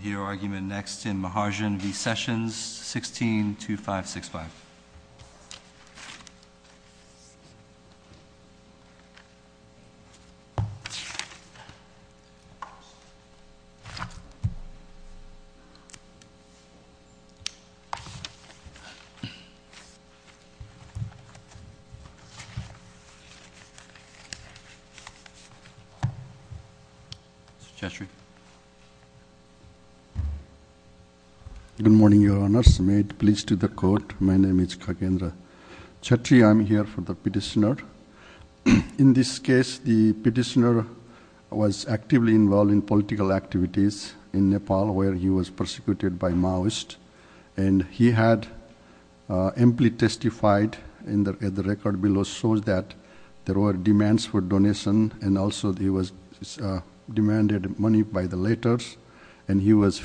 Mahajan v. Sessions, 162565. Mr. Cheshry. Good morning, your honors. May it please the court, my name is Kagendra Cheshry. I'm here for the petitioner. In this case, the petitioner was actively involved in political activities in Nepal, where he was persecuted by Maoists, and he had amply testified, and the record below shows that there were demands for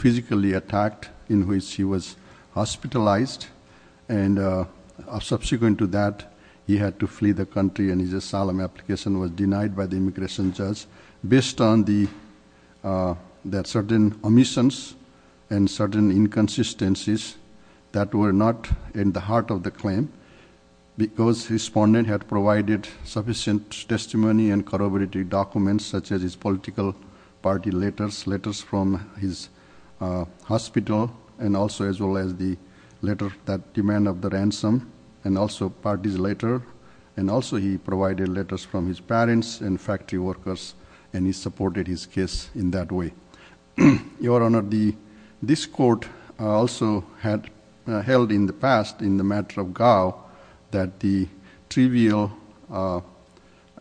physical attacks in which he was hospitalized, and subsequent to that, he had to flee the country, and his asylum application was denied by the immigration judge, based on the certain omissions and certain inconsistencies that were not in the heart of the claim, because the respondent had provided sufficient testimony and corroborated documents, such as his political party letters, letters from his hospital, and also as well as the letter that demand of the ransom, and also party's letter, and also he provided letters from his parents and factory workers, and he supported his case in that way. Your honor, this court also had held in the past, in the matter of Gao, that the trivial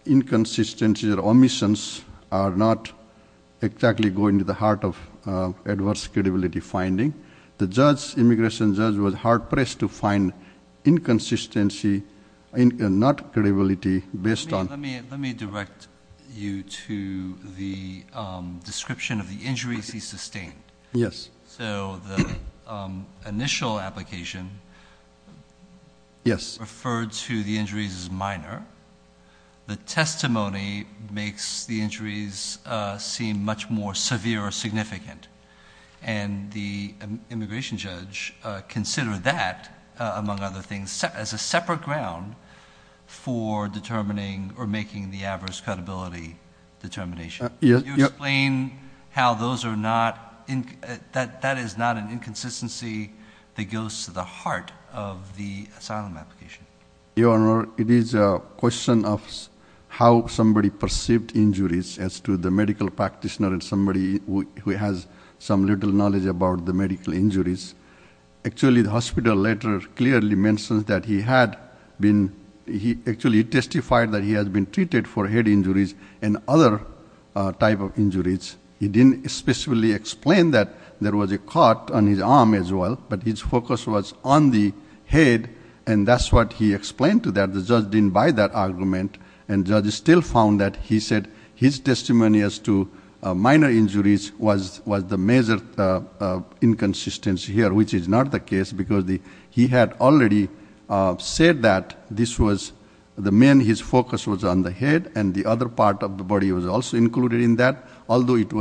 inconsistencies or omissions are not exactly going to the heart of adverse credibility finding. The judge, immigration judge, was hard-pressed to find inconsistency, not credibility, based on... Let me direct you to the description of the injuries he sustained. Yes. So the initial application... Yes. Referred to the injuries as minor. The testimony makes the injuries seem much more severe or significant, and the immigration judge considered that, among other things, as a separate ground for determining or making the adverse credibility determination. Yes. Can you explain how that is not an Your honor, it is a question of how somebody perceived injuries as to the medical practitioner and somebody who has some little knowledge about the medical injuries. Actually, the hospital letter clearly mentions that he had been, he actually testified that he has been treated for head injuries and other type of injuries. He didn't specifically explain that there was a cut on his arm as well, but his focus was on the head, and that's what he explained to that. The judge didn't buy that argument, and the judge still found that he said his testimony as to minor injuries was the major inconsistency here, which is not the case, because he had already said that this was the main... His focus was on the head, and the other part of the body was also included in that, although it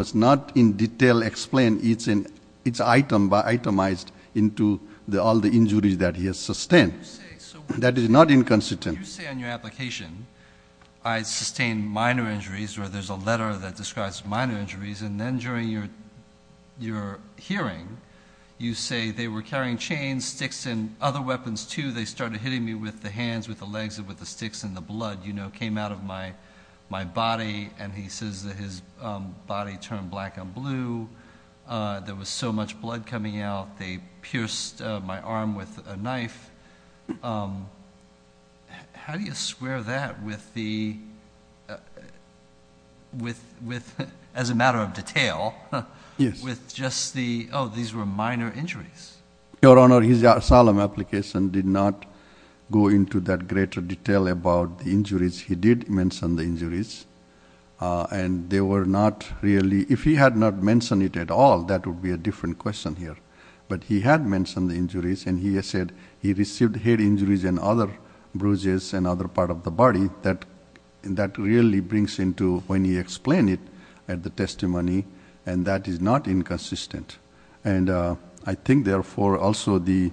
into all the injuries that he has sustained. That is not inconsistent. You say in your application, I sustained minor injuries, or there's a letter that describes minor injuries, and then during your hearing, you say they were carrying chains, sticks, and other weapons too. They started hitting me with the hands, with the legs, with the sticks, and the blood, you know, came out of my body, and he says that his body turned black and blue. There was so much blood coming out, they pierced my arm with a knife. How do you square that with the... as a matter of detail, with just the, oh, these were minor injuries? Your Honor, his solemn application did not go into that greater detail about the injuries. He did mention the injuries, and they were not really... If he had not mentioned it at all, that would be a different question here, but he had mentioned the injuries, and he has said he received head injuries and other bruises, and other part of the body. That really brings into, when he explained it at the testimony, and that is not inconsistent, and I think therefore, also the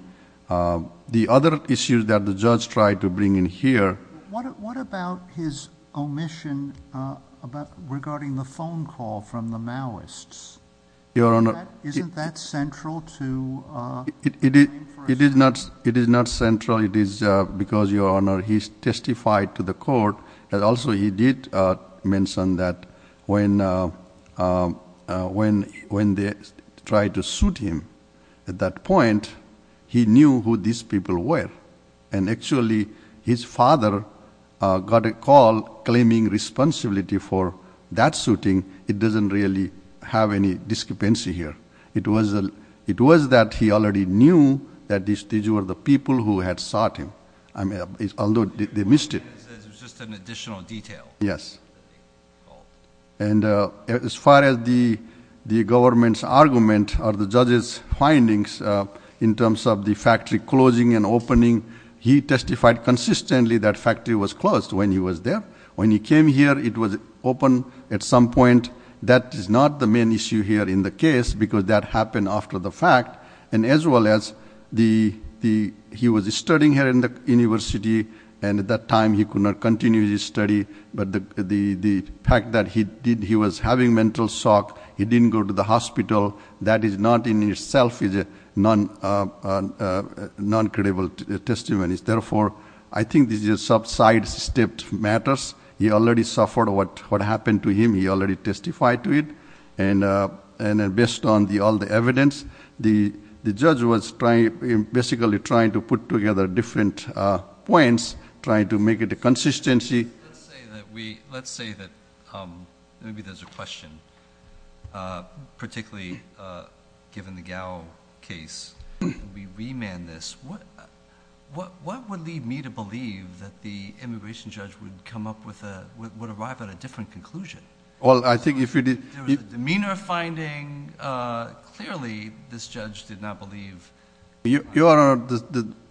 other issues that the judge tried to bring in here... What about his omission regarding the phone call from the Maoists? Isn't that central to... It is not central. It is because, Your Honor, he testified to the court, and also he did mention that when they tried to shoot him at that point, he knew who these people were, and actually his father got a call claiming responsibility for that shooting. It doesn't really have any discrepancy here. It was that he already knew that these were the people who had shot him, although they missed it. It was just an additional detail. Yes, and as far as the government's argument or the judge's findings in terms of the factory closing and opening, he testified consistently that factory was closed when he was there. When he came here, it was open at some point. That is not the main issue here in the case, because that happened after the fact, and as well as he was studying here in the university, and at that time he could not continue his study, but the fact that he was having mental shock, he didn't go to the hospital, that is not in I think these are sub-side-stepped matters. He already suffered what happened to him. He already testified to it, and based on all the evidence, the judge was basically trying to put together different points, trying to make it a consistency. Let's say that maybe there's a question, particularly given the Gao case, we remand this. What would lead me to believe that the immigration judge would come up with a... would arrive at a different conclusion? Well, I think if you... There was a demeanor finding. Clearly, this judge did not believe... Your...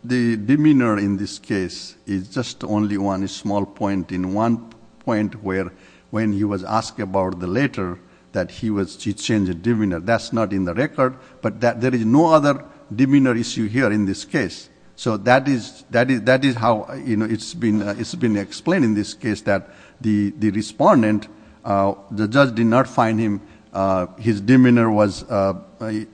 the demeanor in this case is just only one change in demeanor. That's not in the record, but there is no other demeanor issue here in this case. So that is how it's been explained in this case, that the respondent, the judge did not find him... his demeanor was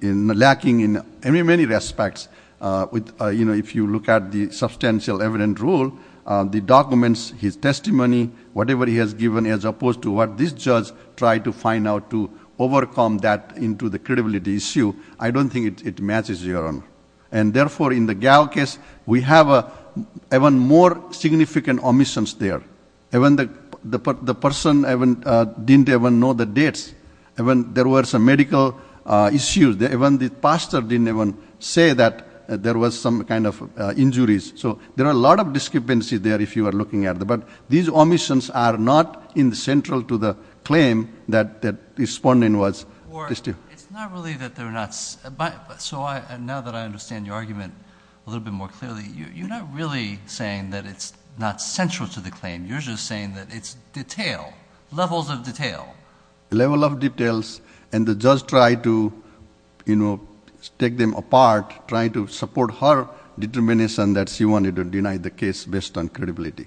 lacking in many, many respects. If you look at the substantial evident rule, the documents, his testimony, whatever he has given, as to how he overcame that into the credibility issue, I don't think it matches your honor. And therefore, in the Gao case, we have even more significant omissions there. Even the person didn't even know the dates. Even there was a medical issue. Even the pastor didn't even say that there was some kind of injuries. So there are a lot of discrepancies there, if you are looking at the... But these omissions are not central to the claim that the respondent was... Or, it's not really that they're not... So now that I understand your argument a little bit more clearly, you're not really saying that it's not central to the claim. You're just saying that it's detail, levels of detail. Level of details, and the judge tried to take them apart, tried to support her determination that she wanted to deny the case based on credibility.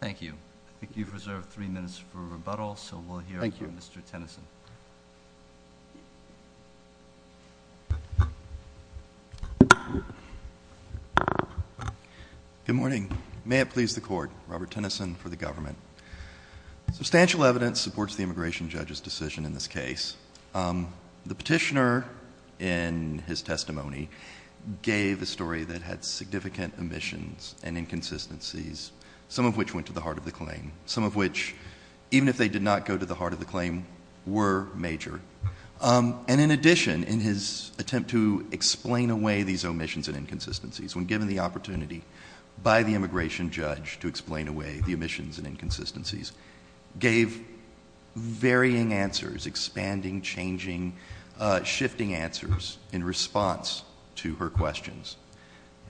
Thank you. I think you've reserved three minutes for rebuttal, so we'll hear from Mr. Tennyson. Good morning. May it please the court, Robert Tennyson for the government. Substantial evidence supports the immigration judge's decision in this case. The petitioner, in his testimony, gave a story that had significant omissions and inconsistencies, some of which went to the heart of the claim. Some of which, even if they did not go to the heart of the claim, were major. And in addition, in his attempt to explain away these omissions and inconsistencies, when given the opportunity by the immigration judge to explain away the omissions and inconsistencies, gave varying answers, expanding, changing, shifting answers in response to her questions.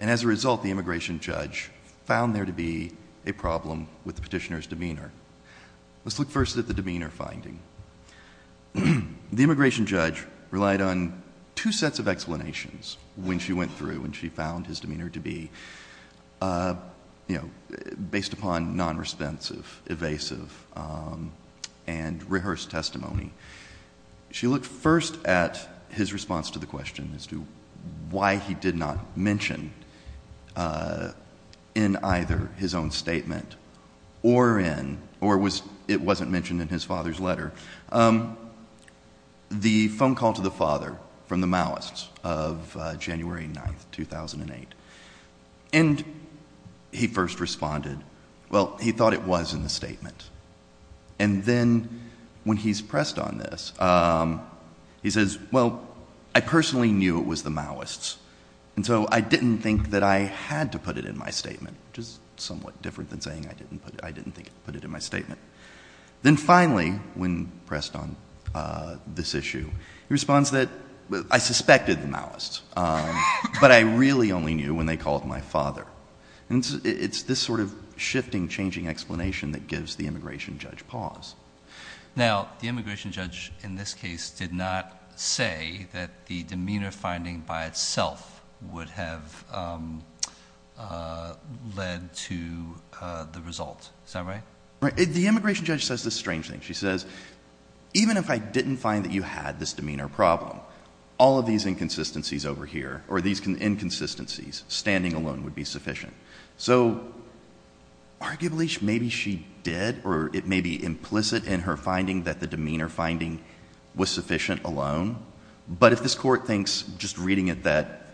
And as a immigration judge found there to be a problem with the petitioner's demeanor. Let's look first at the demeanor finding. The immigration judge relied on two sets of explanations when she went through, when she found his demeanor to be, you know, based upon non-responsive, evasive, and rehearsed testimony. She looked first at his response to the question as to why he did not mention in either his own statement or in, or was, it wasn't mentioned in his father's letter, the phone call to the father from the Maoists of January 9th, 2008. And he first responded, well, he thought it was in the statement. And then, when he's pressed on this, he says, well, I personally knew it was the Maoists. And so I didn't think that I had to put it in my statement, which is somewhat different than saying I didn't put it in my statement. Then finally, when pressed on this issue, he responds that I suspected the Maoists, but I really only knew when they called my father. And it's this sort of shifting, changing explanation that gives the immigration judge pause. Now, the immigration judge in this case did not say that the demeanor finding by itself would have led to the result. Is that right? The immigration judge says this strange thing. She says, even if I didn't find that you had this demeanor problem, all of these inconsistencies over here, or maybe she did, or it may be implicit in her finding that the demeanor finding was sufficient alone. But if this Court thinks, just reading it, that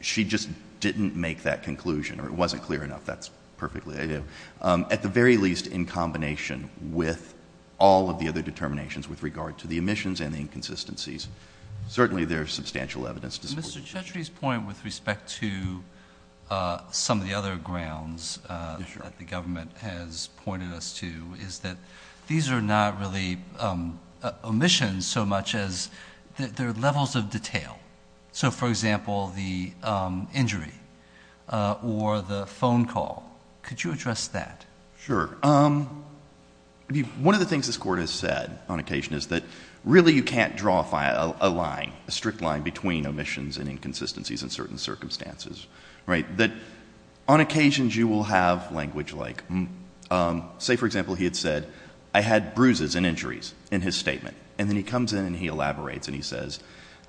she just didn't make that conclusion, or it wasn't clear enough, that's perfectly ideal. At the very least, in combination with all of the other determinations with regard to the omissions and the inconsistencies, certainly there's substantial evidence to support that. Mr. Chetri's point with respect to some of the other grounds that the government has pointed us to is that these are not really omissions so much as they're levels of detail. So, for example, the injury or the phone call. Could you address that? Sure. One of the things this Court has said on occasion is that really you can't draw a line, a strict line, between omissions and inconsistencies in certain circumstances. On occasions, you will have language like, say, for example, he had said, I had bruises and injuries in his statement. And then he comes in and he elaborates and he says,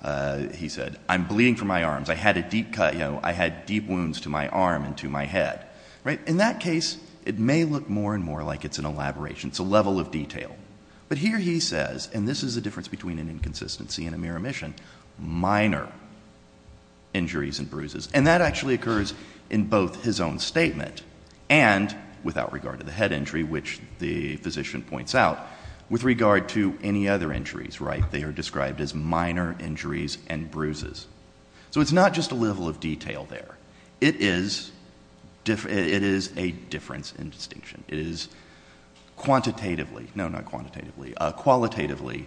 I'm bleeding from my arms. I had a deep cut. I had deep wounds to my arm and to my head. In that case, it may look more and more like it's an elaboration. It's a level of detail. But here he says, and this is the difference between an inconsistency and a mere omission, minor injuries and bruises. And that actually occurs in both his own statement and without regard to the head injury, which the physician points out, with regard to any other injuries. They are described as minor injuries and bruises. So it's not just a level of detail there. It is a difference in distinction. It is quantitatively, no, not quantitatively, qualitatively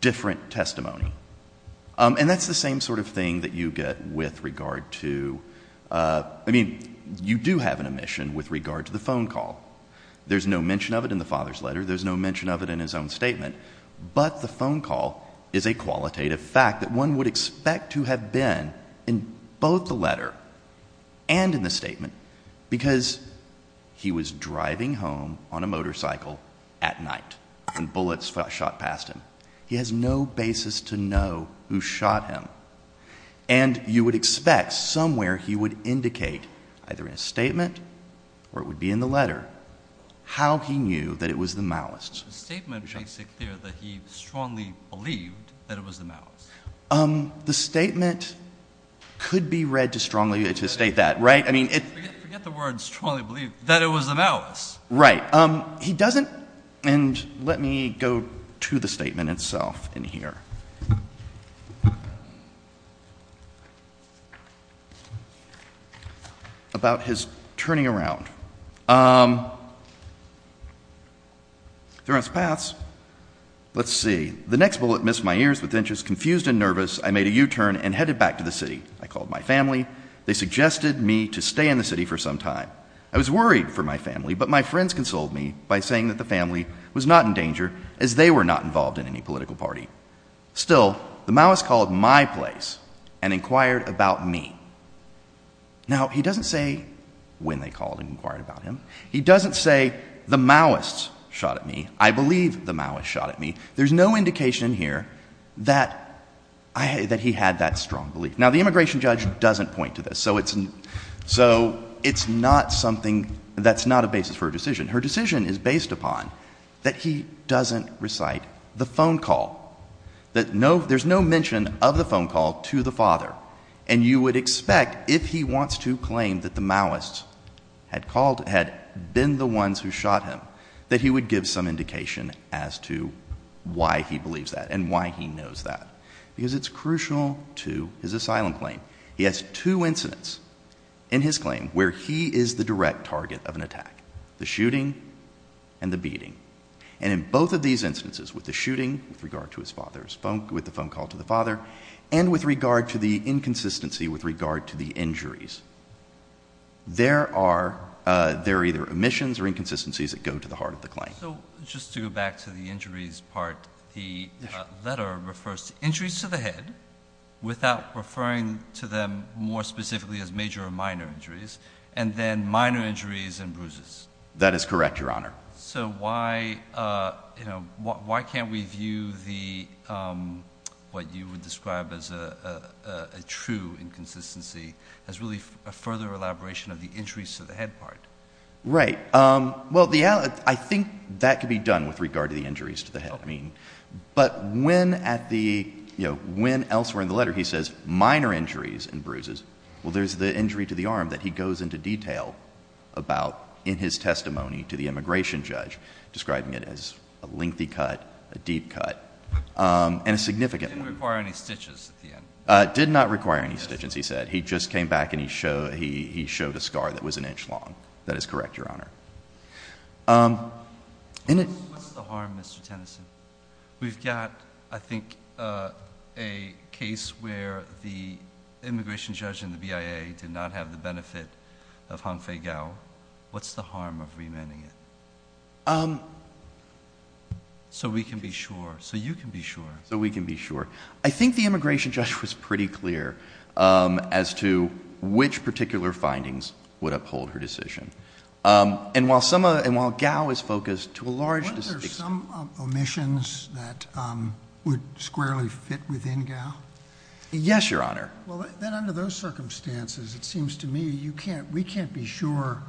different testimony. And that's the same sort of thing that you get with regard to, I mean, you do have an omission with regard to the phone call. There's no mention of it in the father's letter. There's no mention of it in his own statement. But the phone call is a qualitative fact that one would expect to have been in both the letter and in the statement. Because he was driving home on a motorcycle at night and bullets shot past him. He has no basis to know who shot him. And you would expect somewhere he would indicate, either in his statement or it would be in the letter, how he knew that it was the malice. The statement makes it clear that he strongly believed that it was the malice. The statement could be read to strongly, to state that, right? I mean, it's true. That it was the malice. Right. He doesn't, and let me go to the statement itself in here. About his turning around. There are paths. Let's see. The next bullet missed my ears with inches confused and nervous. I made a U-turn and headed back to the city. I was worried for my family, but my friends consoled me by saying that the family was not in danger, as they were not involved in any political party. Still, the malice called my place and inquired about me. Now, he doesn't say when they called and inquired about him. He doesn't say the malice shot at me. I believe the malice shot at me. There's no indication here that he had that strong belief. Now, the immigration judge doesn't point to this. So it's not something that's not a basis for a decision. Her decision is based upon that he doesn't recite the phone call. That no, there's no mention of the phone call to the father. And you would expect, if he wants to claim that the malice had called, had been the ones who shot him, that he would give some indication as to why he did that. He has two incidents in his claim where he is the direct target of an attack, the shooting and the beating. And in both of these instances, with the shooting with regard to his father, with the phone call to the father, and with regard to the inconsistency with regard to the injuries, there are either omissions or inconsistencies that go to the heart of the claim. So just to go back to the injuries part, the letter refers to injuries to the head, without referring to them more specifically as major or minor injuries, and then minor injuries and bruises. That is correct, Your Honor. So why can't we view what you would describe as a true inconsistency as really a further elaboration of the injuries to the head part? Right. Well, I think that could be done with regard to the injuries to the head. I mean, but when at the, you know, when elsewhere in the letter he says minor injuries and bruises, well, there's the injury to the arm that he goes into detail about in his testimony to the immigration judge, describing it as a lengthy cut, a deep cut, and a significant one. It didn't require any stitches at the end. It did not require any stitches, he said. He just came back and he showed a scar that was an inch long. That is correct, Your Honor. What's the harm, Mr. Tennyson? We've got, I think, a case where the immigration judge and the BIA did not have the benefit of Hong Fei Gao. What's the harm of remanding it? So we can be sure, so you can be sure. So we can be sure. I think the immigration judge was pretty clear as to which particular findings would uphold her decision. And while some, and while Gao is focused to a large extent. Weren't there some omissions that would squarely fit within Gao? Yes, Your Honor. Well, then under those circumstances, it seems to me you can't, we can't be sure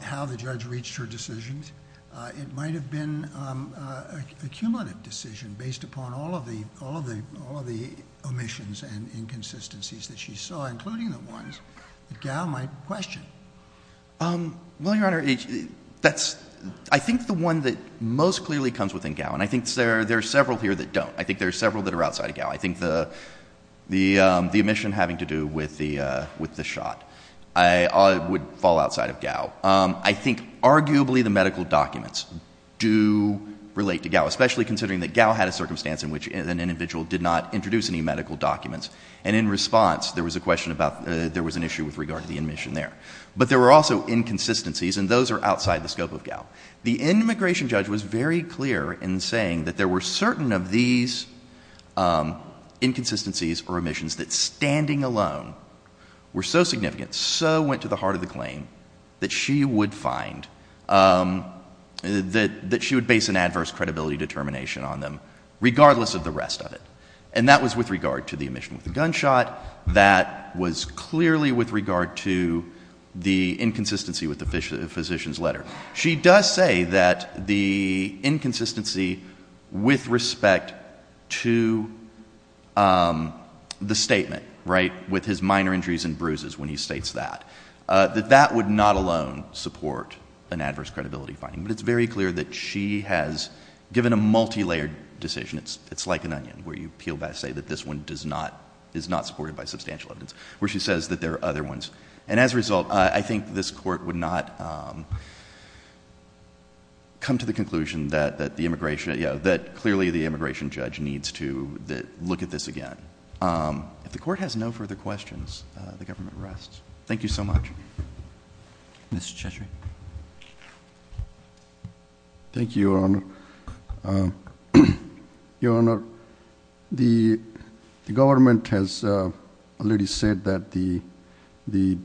how the judge reached her decisions. It might have been a cumulative decision based upon all of the, all of the, all of the omissions and inconsistencies that she saw, including the ones that Gao might question. Well, Your Honor, that's, I think the one that most clearly comes within Gao, and I think there are several here that don't. I think there are several that are outside of Gao. I think the, the omission having to do with the, with the shot would fall outside of Gao. I think arguably the medical documents do relate to Gao, especially considering that Gao had a circumstance in which an individual did not introduce any medical documents. And in response, there was a question about, there was an issue with regard to the omission there. But there were also inconsistencies, and those are outside the scope of Gao. The immigration judge was very clear in saying that there were certain of these inconsistencies or omissions that, standing alone, were so significant, so went to the heart of the claim, that she would find that, that she would base an adverse credibility determination on them, regardless of the rest of it. And that was with regard to the omission with the gunshot. That was clearly with regard to the inconsistency with the physician, the physician's letter. She does say that the inconsistency with respect to the statement, right, with his minor injuries and bruises, when he states that, that that would not alone support an adverse credibility finding. But it's very clear that she has given a multilayered decision. It's, it's like an onion, where you peel back and say that this one does not, is not supported by substantial evidence, where she says that there are other ones. And as a result, I think this court would not come to the conclusion that, that the immigration, you know, that clearly the immigration judge needs to look at this again. If the court has no further questions, the government rests. Thank you so much. Mr. Cheshire. Thank you, Your Honor. Your Honor, the government has already said that the, the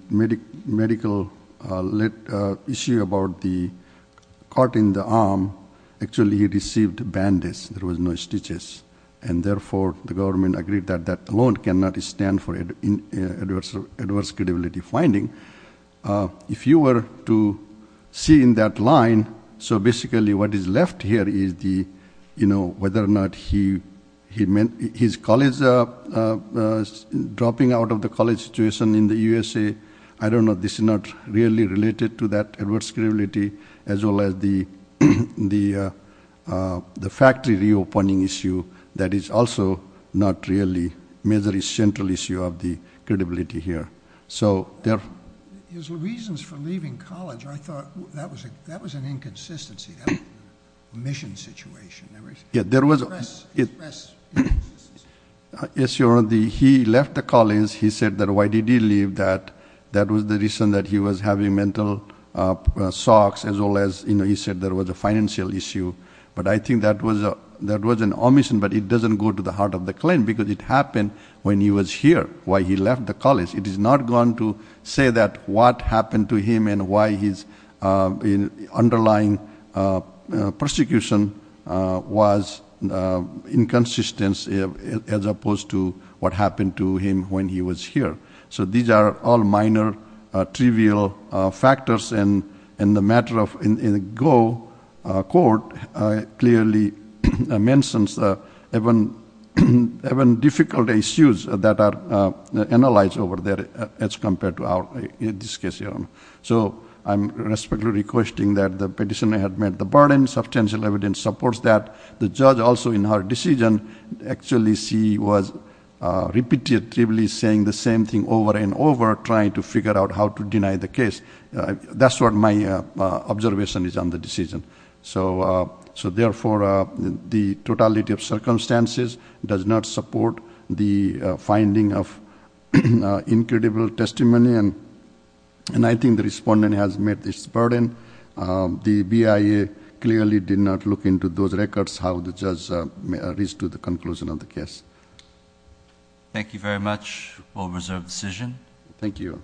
medical issue about the cut in the arm, actually he received bandage, there was no stitches. And therefore, the government agreed that, that alone cannot stand for adverse credibility finding. If you were to see in that line, so basically what is left here is the, you know, whether or not he, he meant, his college dropping out of the college situation in the USA. I don't know, this is not really related to that adverse credibility, as well as the, the, factory reopening issue, that is also not really majorly central issue of the credibility here. So, there. His reasons for leaving college, I thought, that was a, that was an inconsistency. That was a mission situation. There was. Yeah, there was a. Express, express. Yes, Your Honor, the, he left the college, he said that why did he leave that? That was the reason that he was having mental, socks, as well as, you know, he said there was a financial issue. But I think that was a, that was an omission, but it doesn't go to the heart of the claim, because it happened when he was here, why he left the college. It is not going to say that what happened to him and why his underlying persecution was inconsistency, as opposed to what happened to him when he was here. So these are all minor, trivial factors, and in the matter of, in the Goh court, clearly mentions even, even difficult issues that are analyzed over there, as compared to our, in this case, Your Honor. So, I'm respectfully requesting that the petitioner admit the burden. Substantial evidence supports that. The judge also, in her decision, actually, she was repetitively saying the same thing over and over, trying to figure out how to deny the case. That's what my observation is on the decision. So, so therefore, the totality of circumstances does not support the finding of incredible testimony, and I think the respondent has met this burden. The BIA clearly did not look into those records, how the judge reached to the conclusion of the case. Thank you very much. All reserve the decision. Thank you.